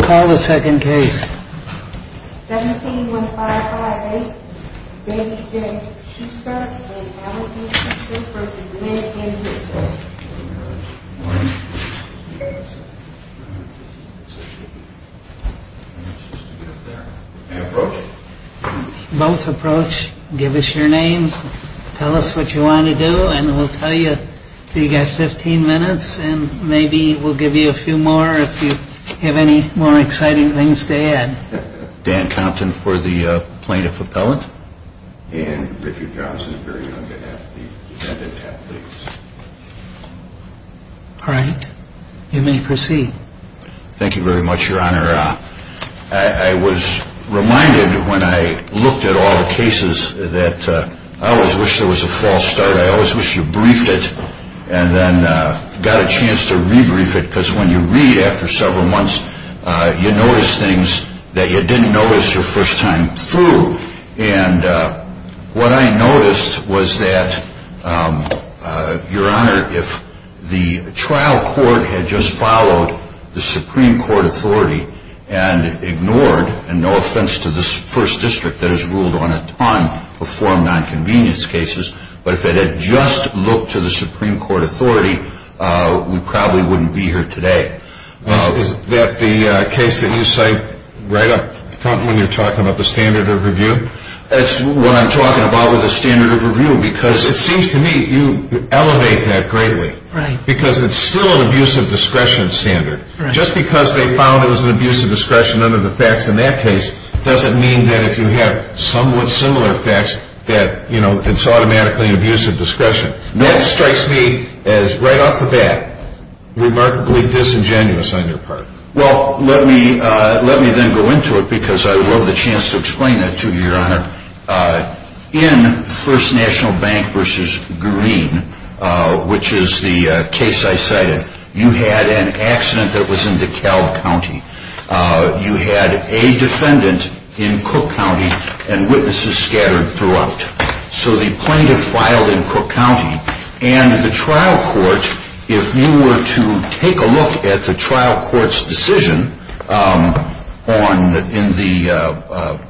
Call the second case. Both approach, give us your names, tell us what you want to do, and we'll tell you you've got 15 minutes and maybe we'll give you a few more if you have any more exciting things to add. Dan Compton for the plaintiff appellant. And Richard Johnson, very young, to have the defendant have the case. All right. You may proceed. Thank you very much, Your Honor. I was reminded when I looked at all the cases that I always wish there was a false start. I always wish you briefed it and then got a chance to rebrief it because when you read after several months, you notice things that you didn't notice your first time through. And what I noticed was that, Your Honor, if the trial court had just followed the Supreme Court authority and ignored, and no offense to this first district that has ruled on a ton of form nonconvenience cases, but if it had just looked to the Supreme Court authority, we probably wouldn't be here today. Is that the case that you cite right up front when you're talking about the standard of review? That's what I'm talking about with the standard of review because it seems to me you elevate that greatly. Right. Because it's still an abuse of discretion standard. Just because they found it was an abuse of discretion under the facts in that case doesn't mean that if you have somewhat similar facts that it's automatically an abuse of discretion. That strikes me as, right off the bat, remarkably disingenuous on your part. Well, let me then go into it because I would love the chance to explain that to you, Your Honor. In First National Bank v. Green, which is the case I cited, you had an accident that was in DeKalb County. You had a defendant in Cook County and witnesses scattered throughout. So the plaintiff filed in Cook County, and the trial court, if you were to take a look at the trial court's decision in the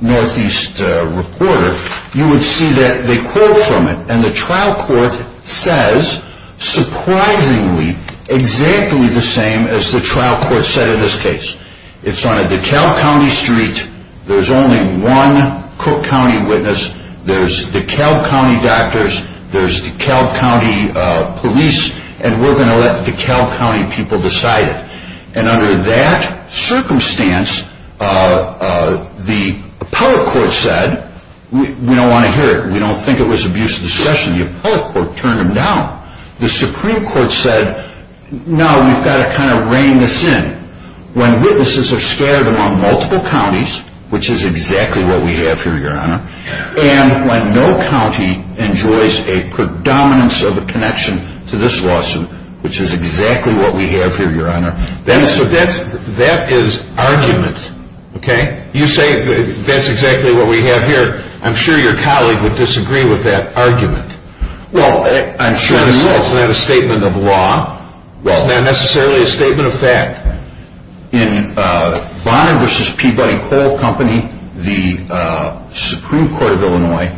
Northeast Reporter, you would see that they quote from it. And the trial court says, surprisingly, exactly the same as the trial court said in this case. It's on a DeKalb County street. There's only one Cook County witness. There's DeKalb County doctors. There's DeKalb County police. And we're going to let DeKalb County people decide it. And under that circumstance, the appellate court said, we don't want to hear it. We don't think it was abuse of discretion. The appellate court turned him down. The Supreme Court said, no, we've got to kind of reign this in. When witnesses are scattered among multiple counties, which is exactly what we have here, Your Honor, and when no county enjoys a predominance of a connection to this lawsuit, which is exactly what we have here, Your Honor, that is argument, okay? You say that's exactly what we have here. I'm sure your colleague would disagree with that argument. Well, I'm sure he will. It's not a statement of law. It's not necessarily a statement of fact. In Bonner v. Peabody Coal Company, the Supreme Court of Illinois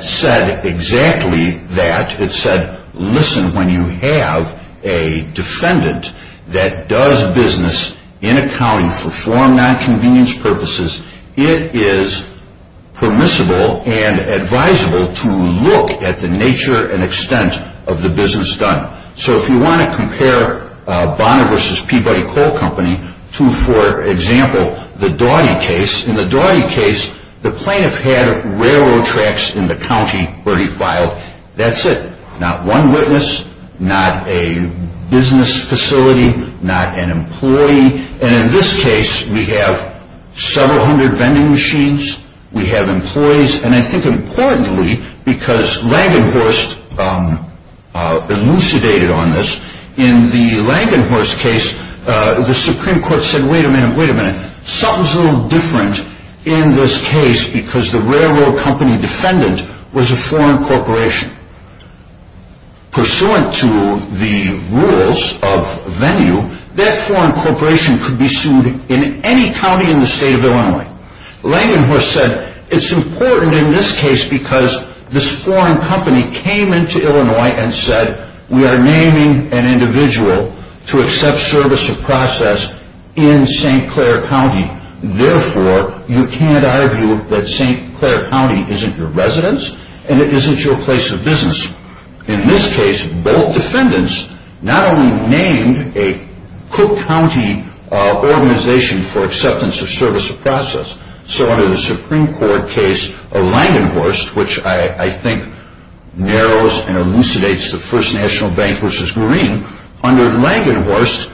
said exactly that. It said, listen, when you have a defendant that does business in a county for foreign nonconvenience purposes, it is permissible and advisable to look at the nature and extent of the business done. So if you want to compare Bonner v. Peabody Coal Company to, for example, the Dawdy case, in the Dawdy case, the plaintiff had railroad tracks in the county where he filed. That's it. Not one witness. Not a business facility. Not an employee. And in this case, we have several hundred vending machines. We have employees. And I think importantly, because Langenhorst elucidated on this, in the Langenhorst case, the Supreme Court said, wait a minute, wait a minute. Something's a little different in this case because the railroad company defendant was a foreign corporation. Pursuant to the rules of venue, that foreign corporation could be sued in any county in the state of Illinois. Langenhorst said it's important in this case because this foreign company came into Illinois and said, we are naming an individual to accept service of process in St. Clair County. Therefore, you can't argue that St. Clair County isn't your residence and it isn't your place of business. In this case, both defendants not only named a Cook County organization for acceptance of service of process, so under the Supreme Court case of Langenhorst, which I think narrows and elucidates the First National Bank v. Green, under Langenhorst,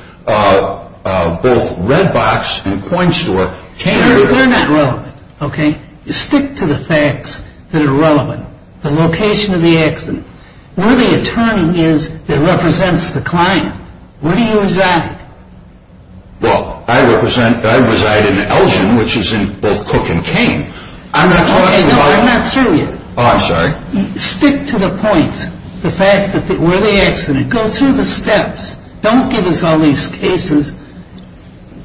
both Red Box and Coin Store came into play. They're not relevant, okay? Stick to the facts that are relevant. The location of the accident. Where the attorney is that represents the client. Where do you reside? Well, I reside in Elgin, which is in both Cook and Kane. Okay, no, I'm not through yet. Oh, I'm sorry. Stick to the points. The fact that where the accident. Go through the steps. Don't give us all these cases.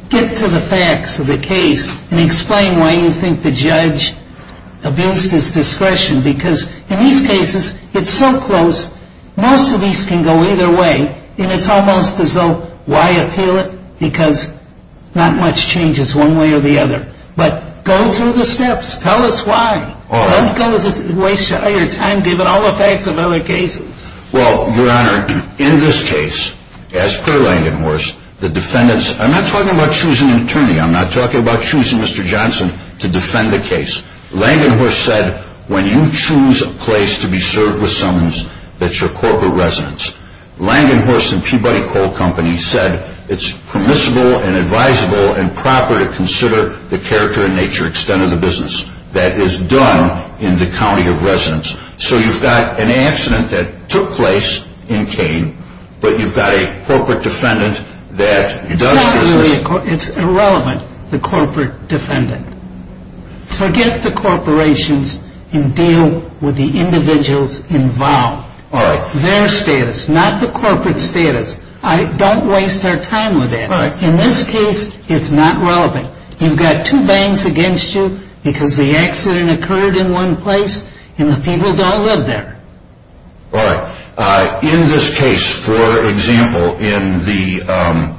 Get to the facts of the case and explain why you think the judge abused his discretion. Because in these cases, it's so close. Most of these can go either way, and it's almost as though, why appeal it? Because not much changes one way or the other. But go through the steps. Tell us why. Don't waste your time giving all the facts of other cases. Well, Your Honor, in this case, as per Langenhorst, the defendants, I'm not talking about choosing an attorney. I'm not talking about choosing Mr. Johnson to defend the case. Langenhorst said when you choose a place to be served with summons, that's your corporate residence. Langenhorst and Peabody Coal Company said it's permissible and advisable and proper to consider the character and nature and extent of the business that is done in the county of residence. So you've got an accident that took place in Kane, but you've got a corporate defendant that does business. It's irrelevant, the corporate defendant. Forget the corporations and deal with the individuals involved. Their status, not the corporate status. Don't waste our time with that. In this case, it's not relevant. You've got two bangs against you because the accident occurred in one place, and the people don't live there. All right. In this case, for example, in the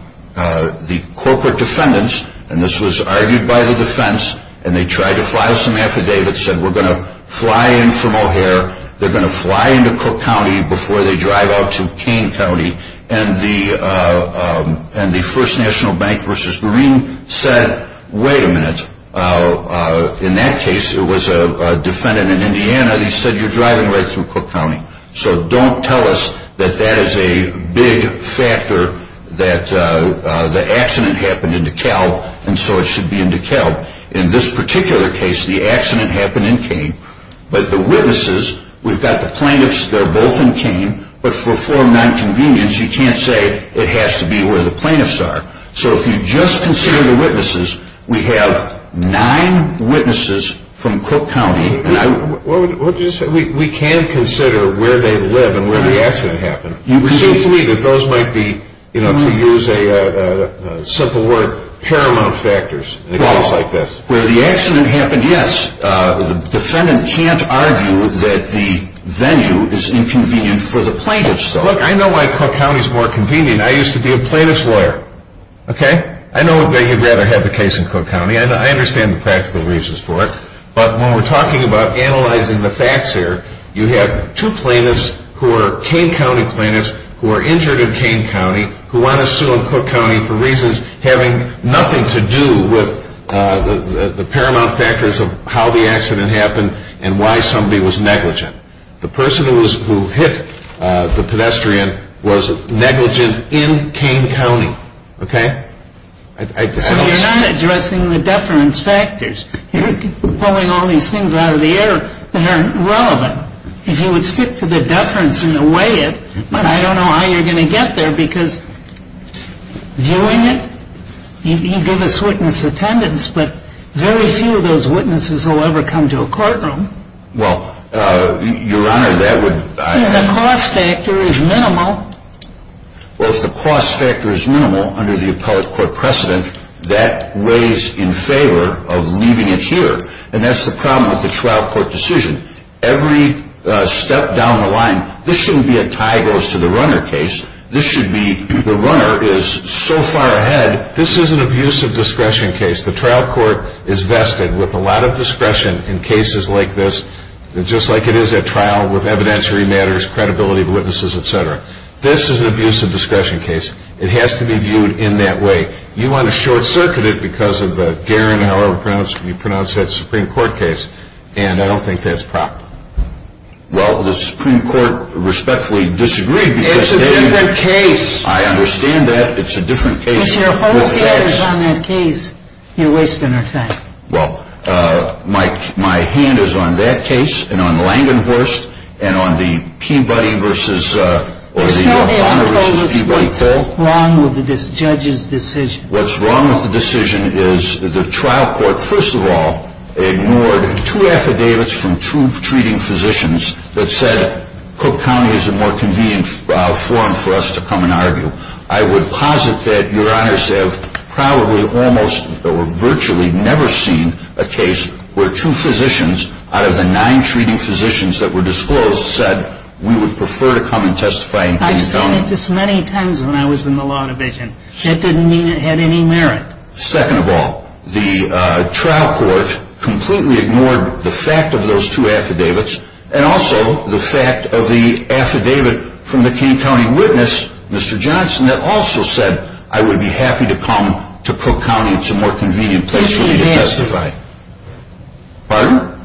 corporate defendants, and this was argued by the defense, and they tried to file some affidavits, said we're going to fly in from O'Hare, they're going to fly into Cook County before they drive out to Kane County, and the First National Bank v. Green said, wait a minute. In that case, it was a defendant in Indiana. They said, you're driving right through Cook County. So don't tell us that that is a big factor that the accident happened in DeKalb, and so it should be in DeKalb. In this particular case, the accident happened in Kane, but the witnesses, we've got the plaintiffs. They're both in Kane, but for form nonconvenience, you can't say it has to be where the plaintiffs are. So if you just consider the witnesses, we have nine witnesses from Cook County. What did you say? We can consider where they live and where the accident happened. It seems to me that those might be, to use a simple word, paramount factors in a case like this. Where the accident happened, yes. The defendant can't argue that the venue is inconvenient for the plaintiffs, though. Look, I know why Cook County is more convenient. I used to be a plaintiff's lawyer. I know they would rather have the case in Cook County. I understand the practical reasons for it, but when we're talking about analyzing the facts here, you have two plaintiffs who are Kane County plaintiffs who are injured in Kane County who want to sue in Cook County for reasons having nothing to do with the paramount factors of how the accident happened and why somebody was negligent. The person who hit the pedestrian was negligent in Kane County, okay? So you're not addressing the deference factors. You're pulling all these things out of the air that aren't relevant. If you would stick to the deference and weigh it, I don't know how you're going to get there because viewing it, you give us witness attendance, but very few of those witnesses will ever come to a courtroom. Well, Your Honor, that would— If the cost factor is minimal. Well, if the cost factor is minimal under the appellate court precedent, that weighs in favor of leaving it here, and that's the problem with the trial court decision. Every step down the line, this shouldn't be a tie goes to the runner case. This should be the runner is so far ahead. This is an abuse of discretion case. The trial court is vested with a lot of discretion in cases like this, just like it is at trial with evidentiary matters, credibility of witnesses, et cetera. This is an abuse of discretion case. It has to be viewed in that way. You want to short-circuit it because of the Garen, however you pronounce that Supreme Court case, and I don't think that's proper. Well, the Supreme Court respectfully disagreed because they— It's a different case. I understand that. It's a different case. If your whole case is on that case, you're wasting our time. Well, my hand is on that case and on Langenhorst and on the Peabody versus— There's nothing wrong with this judge's decision. What's wrong with the decision is the trial court, first of all, ignored two affidavits from two treating physicians that said Cook County is a more convenient forum for us to come and argue. I would posit that Your Honors have probably almost or virtually never seen a case where two physicians out of the nine treating physicians that were disclosed said we would prefer to come and testify in King County. I've seen it just many times when I was in the law division. That didn't mean it had any merit. Second of all, the trial court completely ignored the fact of those two affidavits and also the fact of the affidavit from the King County witness, Mr. Johnson, that also said I would be happy to come to Cook County. It's a more convenient place for me to testify.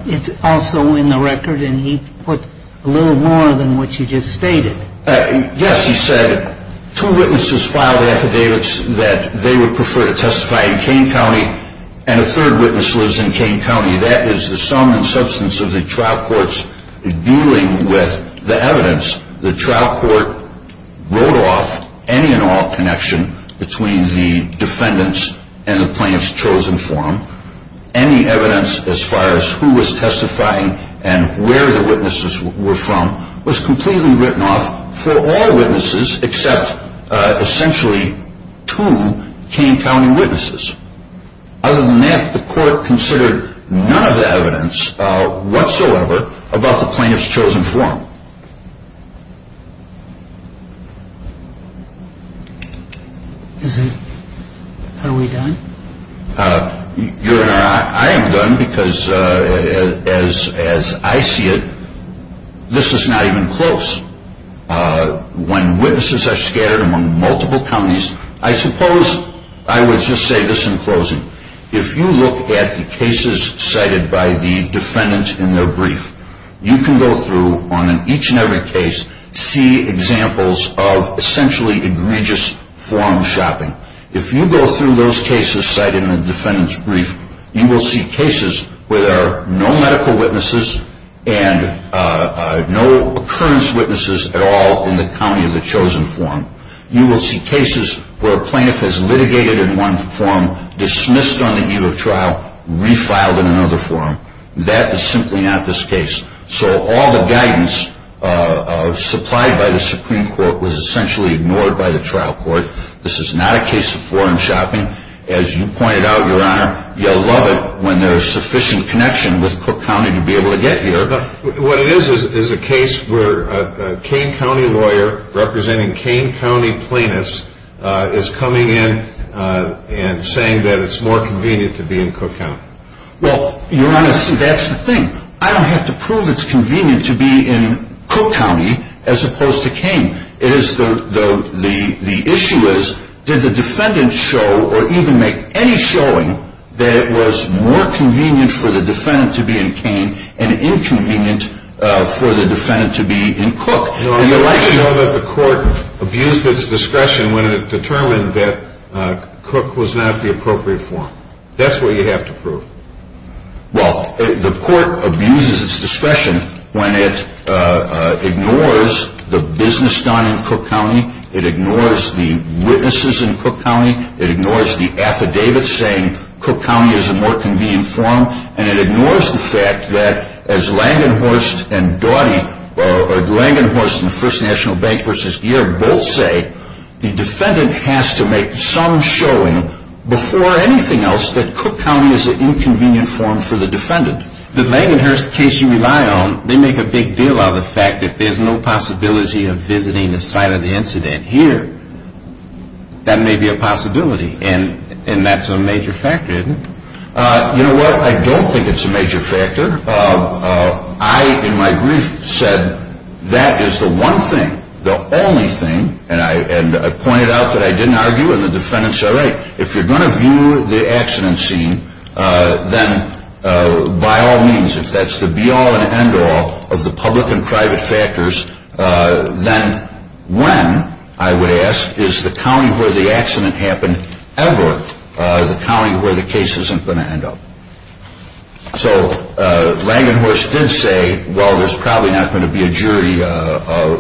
It's also in the record, and he put a little more than what you just stated. Yes, he said two witnesses filed affidavits that they would prefer to testify in King County, and a third witness lives in King County. That is the sum and substance of the trial court's dealing with the evidence. The trial court wrote off any and all connection between the defendants and the plaintiff's chosen forum. Any evidence as far as who was testifying and where the witnesses were from was completely written off for all witnesses except essentially two King County witnesses. Other than that, the court considered none of the evidence whatsoever about the plaintiff's chosen forum. How are we done? Your Honor, I am done because as I see it, this is not even close. When witnesses are scattered among multiple counties, I suppose I would just say this in closing. If you look at the cases cited by the defendants in their brief, you can go through on each and every case, see examples of essentially egregious forum shopping. If you go through those cases cited in the defendant's brief, you will see cases where there are no medical witnesses and no occurrence witnesses at all in the county of the chosen forum. You will see cases where a plaintiff is litigated in one forum, dismissed on the eve of trial, refiled in another forum. That is simply not this case. So all the guidance supplied by the Supreme Court was essentially ignored by the trial court. This is not a case of forum shopping. As you pointed out, Your Honor, you'll love it when there is sufficient connection with Cook County to be able to get here. What it is is a case where a Kane County lawyer representing Kane County plaintiffs is coming in and saying that it's more convenient to be in Cook County. Well, Your Honor, that's the thing. I don't have to prove it's convenient to be in Cook County as opposed to Kane. The issue is did the defendant show or even make any showing that it was more convenient for the defendant to be in Kane and inconvenient for the defendant to be in Cook. Your Honor, I didn't know that the court abused its discretion when it determined that Cook was not the appropriate forum. That's what you have to prove. Well, the court abuses its discretion when it ignores the business done in Cook County. It ignores the witnesses in Cook County. It ignores the affidavits saying Cook County is a more convenient forum. And it ignores the fact that as Langenhorst and Doughty, or Langenhorst and First National Bank v. Gear both say, the defendant has to make some showing before anything else that Cook County is an inconvenient forum for the defendant. The Langenhorst case you rely on, they make a big deal out of the fact that there's no possibility of visiting the site of the incident here. That may be a possibility. And that's a major factor, isn't it? You know what? I don't think it's a major factor. I, in my brief, said that is the one thing, the only thing, and I pointed out that I didn't argue and the defendant said, all right, if you're going to view the accident scene, then by all means, if that's the be-all and end-all of the public and private factors, then when, I would ask, is the county where the accident happened ever the county where the case isn't going to end up? So Langenhorst did say, well, there's probably not going to be a jury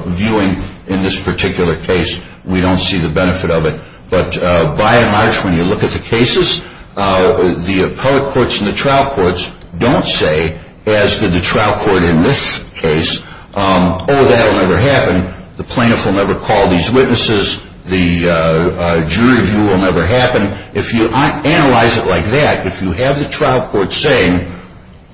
viewing in this particular case. We don't see the benefit of it. But by and large, when you look at the cases, the appellate courts and the trial courts don't say, as did the trial court in this case, oh, that will never happen, the plaintiff will never call these witnesses, the jury view will never happen. If you analyze it like that, if you have the trial court saying,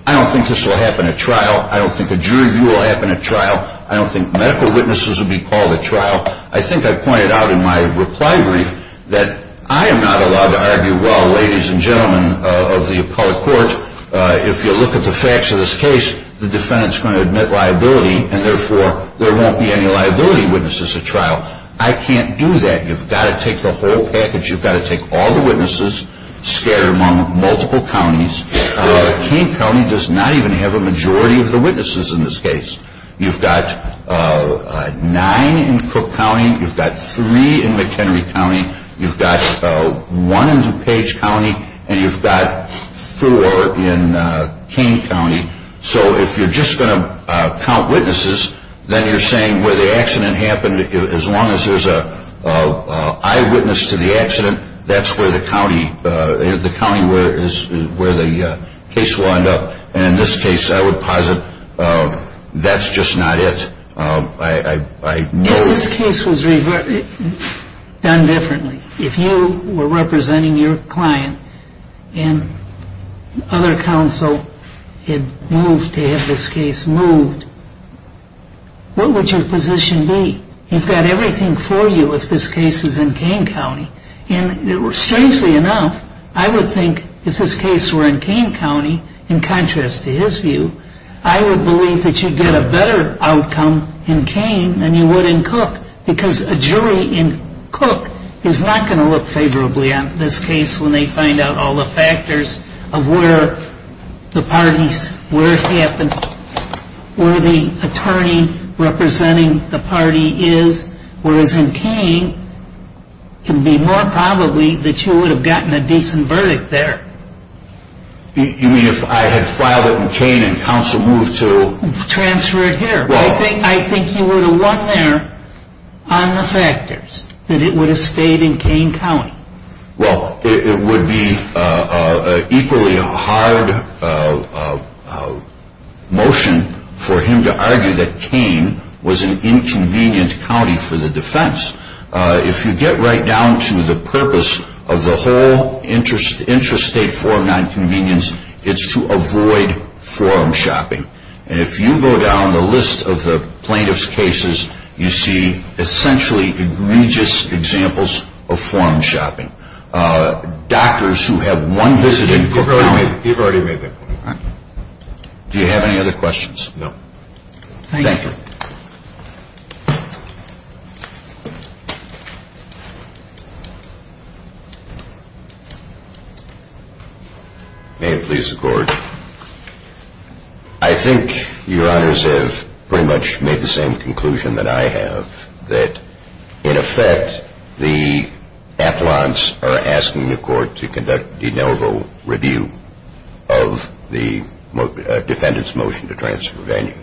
I don't think this will happen at trial, I don't think a jury view will happen at trial, I don't think medical witnesses will be called at trial, I think I pointed out in my reply brief that I am not allowed to argue, well, ladies and gentlemen of the appellate court, if you look at the facts of this case, the defendant is going to admit liability and therefore there won't be any liability witnesses at trial. I can't do that. You've got to take the whole package, you've got to take all the witnesses, scatter them among multiple counties. King County does not even have a majority of the witnesses in this case. You've got nine in Crook County, you've got three in McHenry County, you've got one in DuPage County, and you've got four in King County. So if you're just going to count witnesses, then you're saying where the accident happened, as long as there's an eyewitness to the accident, that's where the county where the case wound up. And in this case, I would posit that's just not it. If this case was done differently, if you were representing your client and other counsel had moved to have this case moved, what would your position be? You've got everything for you if this case is in King County. And strangely enough, I would think if this case were in King County, in contrast to his view, I would believe that you'd get a better outcome in Kane than you would in Cook because a jury in Cook is not going to look favorably on this case when they find out all the factors of where the parties, where it happened, where the attorney representing the party is, whereas in Kane, it would be more probably that you would have gotten a decent verdict there. You mean if I had filed it in Kane and counsel moved to... Transfer it here. I think you would have won there on the factors that it would have stayed in Kane County. Well, it would be equally a hard motion for him to argue that Kane was an inconvenient county for the defense. If you get right down to the purpose of the whole interstate forum nonconvenience, it's to avoid forum shopping. And if you go down the list of the plaintiff's cases, you see essentially egregious examples of forum shopping. Doctors who have one visit in Cook County... You've already made that point. Do you have any other questions? No. Thank you. Thank you. May it please the court. I think your honors have pretty much made the same conclusion that I have, that in effect the appellants are asking the court to conduct de novo review of the defendant's motion to transfer venue.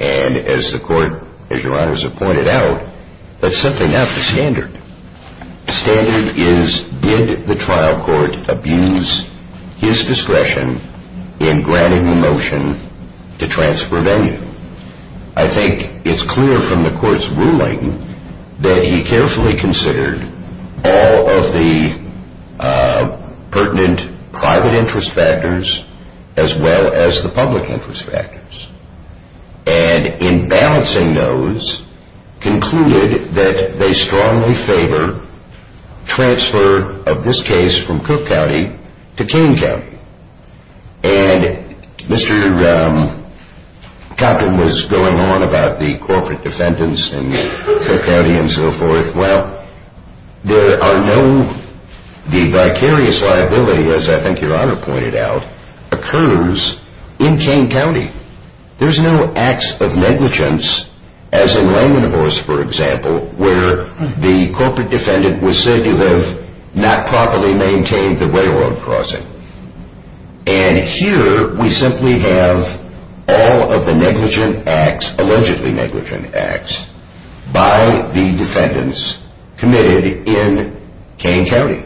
And as the court, as your honors have pointed out, that's simply not the standard. The standard is did the trial court abuse his discretion in granting the motion to transfer venue. I think it's clear from the court's ruling that he carefully considered all of the pertinent private interest factors as well as the public interest factors. And in balancing those, concluded that they strongly favor transfer of this case from Cook County to Kane County. And Mr. Coppin was going on about the corporate defendants in Cook County and so forth. Well, there are no, the vicarious liability, as I think your honor pointed out, occurs in Kane County. There's no acts of negligence, as in Langenhorst for example, where the corporate defendant was said to have not properly maintained the railroad crossing. And here we simply have all of the negligent acts, allegedly negligent acts, by the defendants committed in Kane County.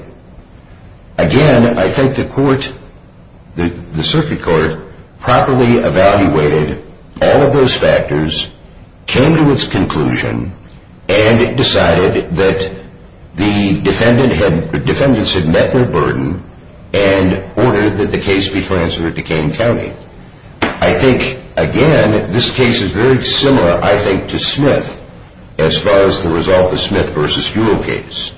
Again, I think the court, the circuit court, properly evaluated all of those factors, came to its conclusion, and decided that the defendants had met their burden, and ordered that the case be transferred to Kane County. I think, again, this case is very similar, I think, to Smith, as far as the result of the Smith v. Stuhl case.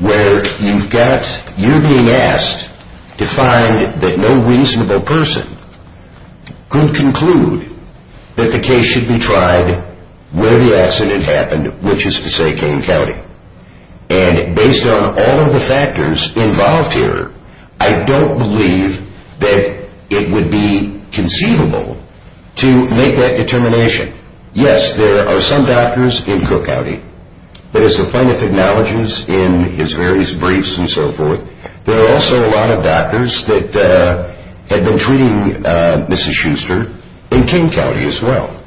Where you've got, you're being asked to find that no reasonable person could conclude that the case should be tried where the accident happened, which is to say, Kane County. And based on all of the factors involved here, I don't believe that it would be conceivable to make that determination. Yes, there are some doctors in Cook County, but as the plaintiff acknowledges in his various briefs and so forth, there are also a lot of doctors that had been treating Mrs. Schuster in Kane County as well.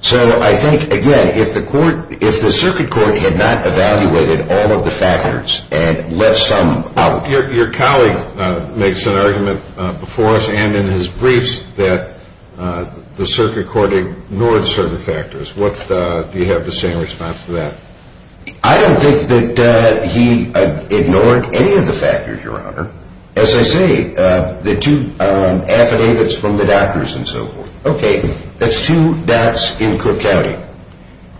So I think, again, if the circuit court had not evaluated all of the factors, and left some out. Your colleague makes an argument before us, and in his briefs, that the circuit court ignored certain factors. Do you have the same response to that? I don't think that he ignored any of the factors, Your Honor. As I say, the two affidavits from the doctors and so forth, okay, that's two dots in Cook County.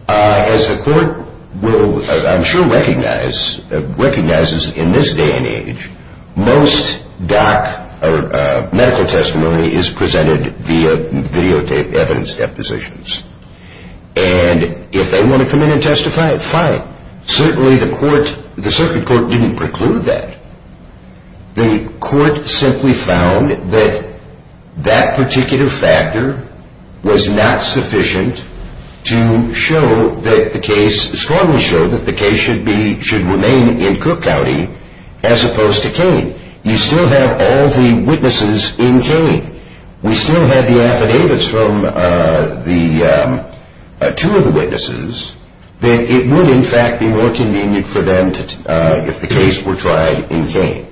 As the court will, I'm sure, recognize, recognizes in this day and age, most medical testimony is presented via videotaped evidence depositions. And if they want to come in and testify, fine. Certainly the circuit court didn't preclude that. The court simply found that that particular factor was not sufficient to show that the case, strongly show that the case should be, should remain in Cook County as opposed to Kane. You still have all the witnesses in Kane. We still have the affidavits from the, two of the witnesses, that it would, in fact, be more convenient for them if the case were tried in Kane.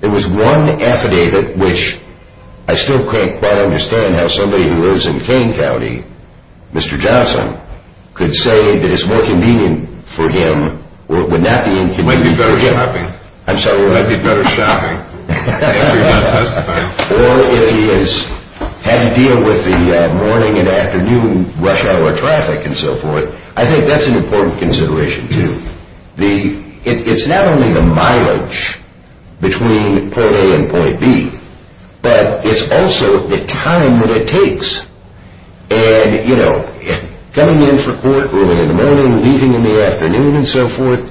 There was one affidavit, which I still can't quite understand how somebody who lives in Kane County, Mr. Johnson, could say that it's more convenient for him, or it would not be convenient for him. Might be better shopping. I'm sorry, what? Might be better shopping if you're going to testify. Or if he has had to deal with the morning and afternoon rush hour traffic and so forth. I think that's an important consideration, too. It's not only the mileage between point A and point B, but it's also the time that it takes. And, you know, coming in for court early in the morning, leaving in the afternoon and so forth,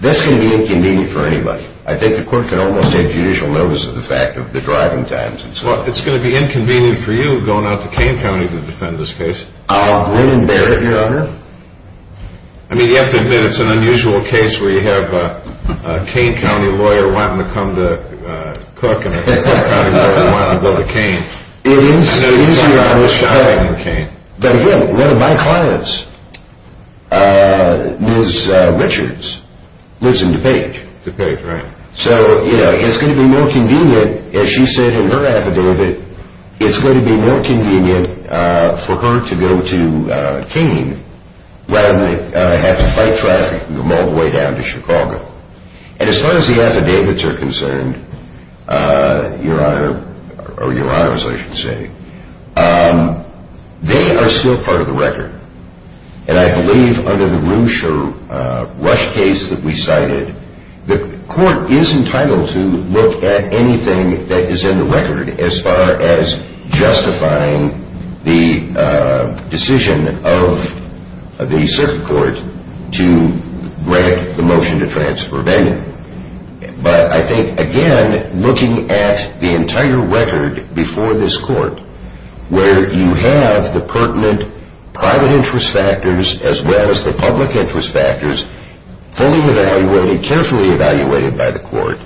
that's going to be inconvenient for anybody. I think the court can almost take judicial notice of the fact of the driving times and so forth. Well, it's going to be inconvenient for you going out to Kane County to defend this case. I'll grin and bear it, Your Honor. I mean, you have to admit it's an unusual case where you have a Kane County lawyer wanting to come to Cook and a Hickman County lawyer wanting to go to Kane. It is. It's easier to go shopping in Kane. But, again, one of my clients, Ms. Richards, lives in DuPage. DuPage, right. So, you know, it's going to be more convenient, as she said in her affidavit, it's going to be more convenient for her to go to Kane rather than have to fight traffic all the way down to Chicago. And as far as the affidavits are concerned, Your Honor, or Your Honors, I should say, they are still part of the record. And I believe under the Roosh or Rush case that we cited, the court is entitled to look at anything that is in the record as far as justifying the decision of the circuit court to grant the motion to transfer Vandenberg. But I think, again, looking at the entire record before this court where you have the pertinent private interest factors as well as the public interest factors fully evaluated, carefully evaluated by the court,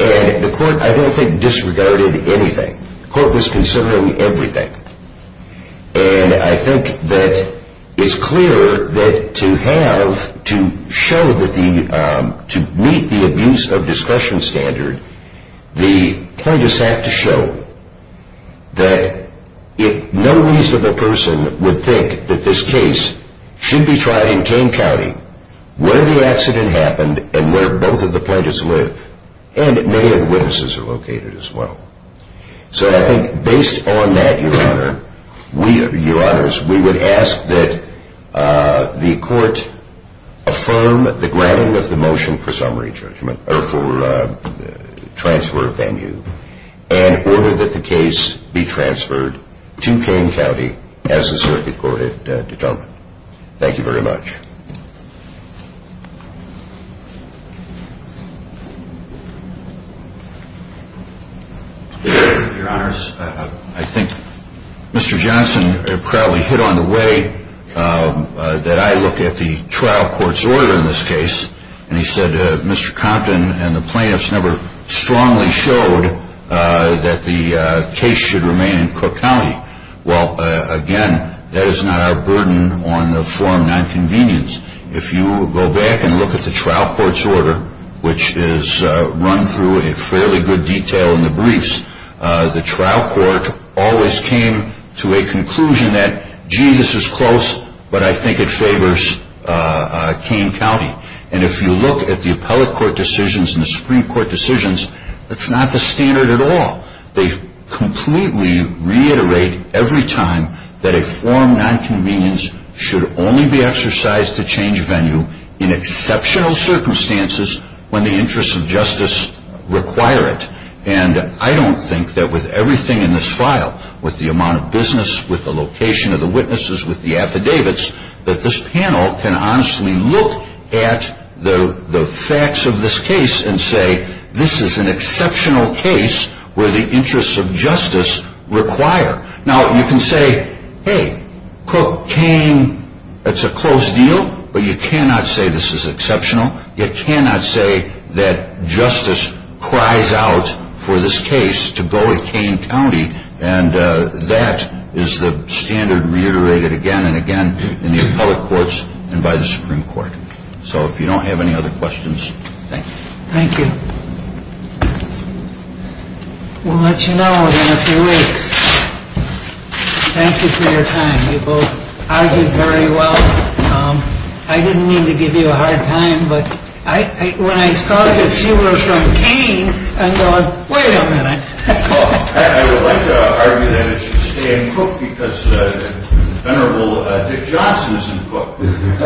and the court, I don't think, disregarded anything. The court was considering everything. And I think that it's clear that to have, to show that the, to meet the abuse of discretion standard, the plaintiffs have to show that no reasonable person would think that this case should be tried in Kane County where the accident happened and where both of the plaintiffs live. And many of the witnesses are located as well. So I think based on that, Your Honor, we, Your Honors, we would ask that the court affirm the granting of the motion for summary judgment or for transfer of venue and order that the case be transferred to Kane County as the circuit court determined. Thank you very much. Your Honors, I think Mr. Johnson probably hit on the way that I look at the trial court's order in this case. And he said Mr. Compton and the plaintiffs never strongly showed that the case should remain in Cook County. Well, again, that is not our burden on the forum nonconvenience. If you go back and look at the trial court's order, which is run through a fairly good detail in the briefs, the trial court always came to a conclusion that, gee, this is close, but I think it favors Kane County. And if you look at the appellate court decisions and the Supreme Court decisions, that's not the standard at all. They completely reiterate every time that a forum nonconvenience should only be exercised to change venue in exceptional circumstances when the interests of justice require it. And I don't think that with everything in this file, with the amount of business, with the location of the witnesses, with the affidavits, that this panel can honestly look at the facts of this case and say this is an exceptional case where the interests of justice require. Now, you can say, hey, Cook, Kane, it's a close deal, but you cannot say this is exceptional. You cannot say that justice cries out for this case to go with Kane County. And that is the standard reiterated again and again in the appellate courts and by the Supreme Court. So if you don't have any other questions, thank you. Thank you. We'll let you know in a few weeks. Thank you for your time. You both argued very well. I didn't mean to give you a hard time, but when I saw that you were from Kane, I'm going, wait a minute. I would like to argue that it should stay in Cook because the venerable Dick Johnson is in Cook.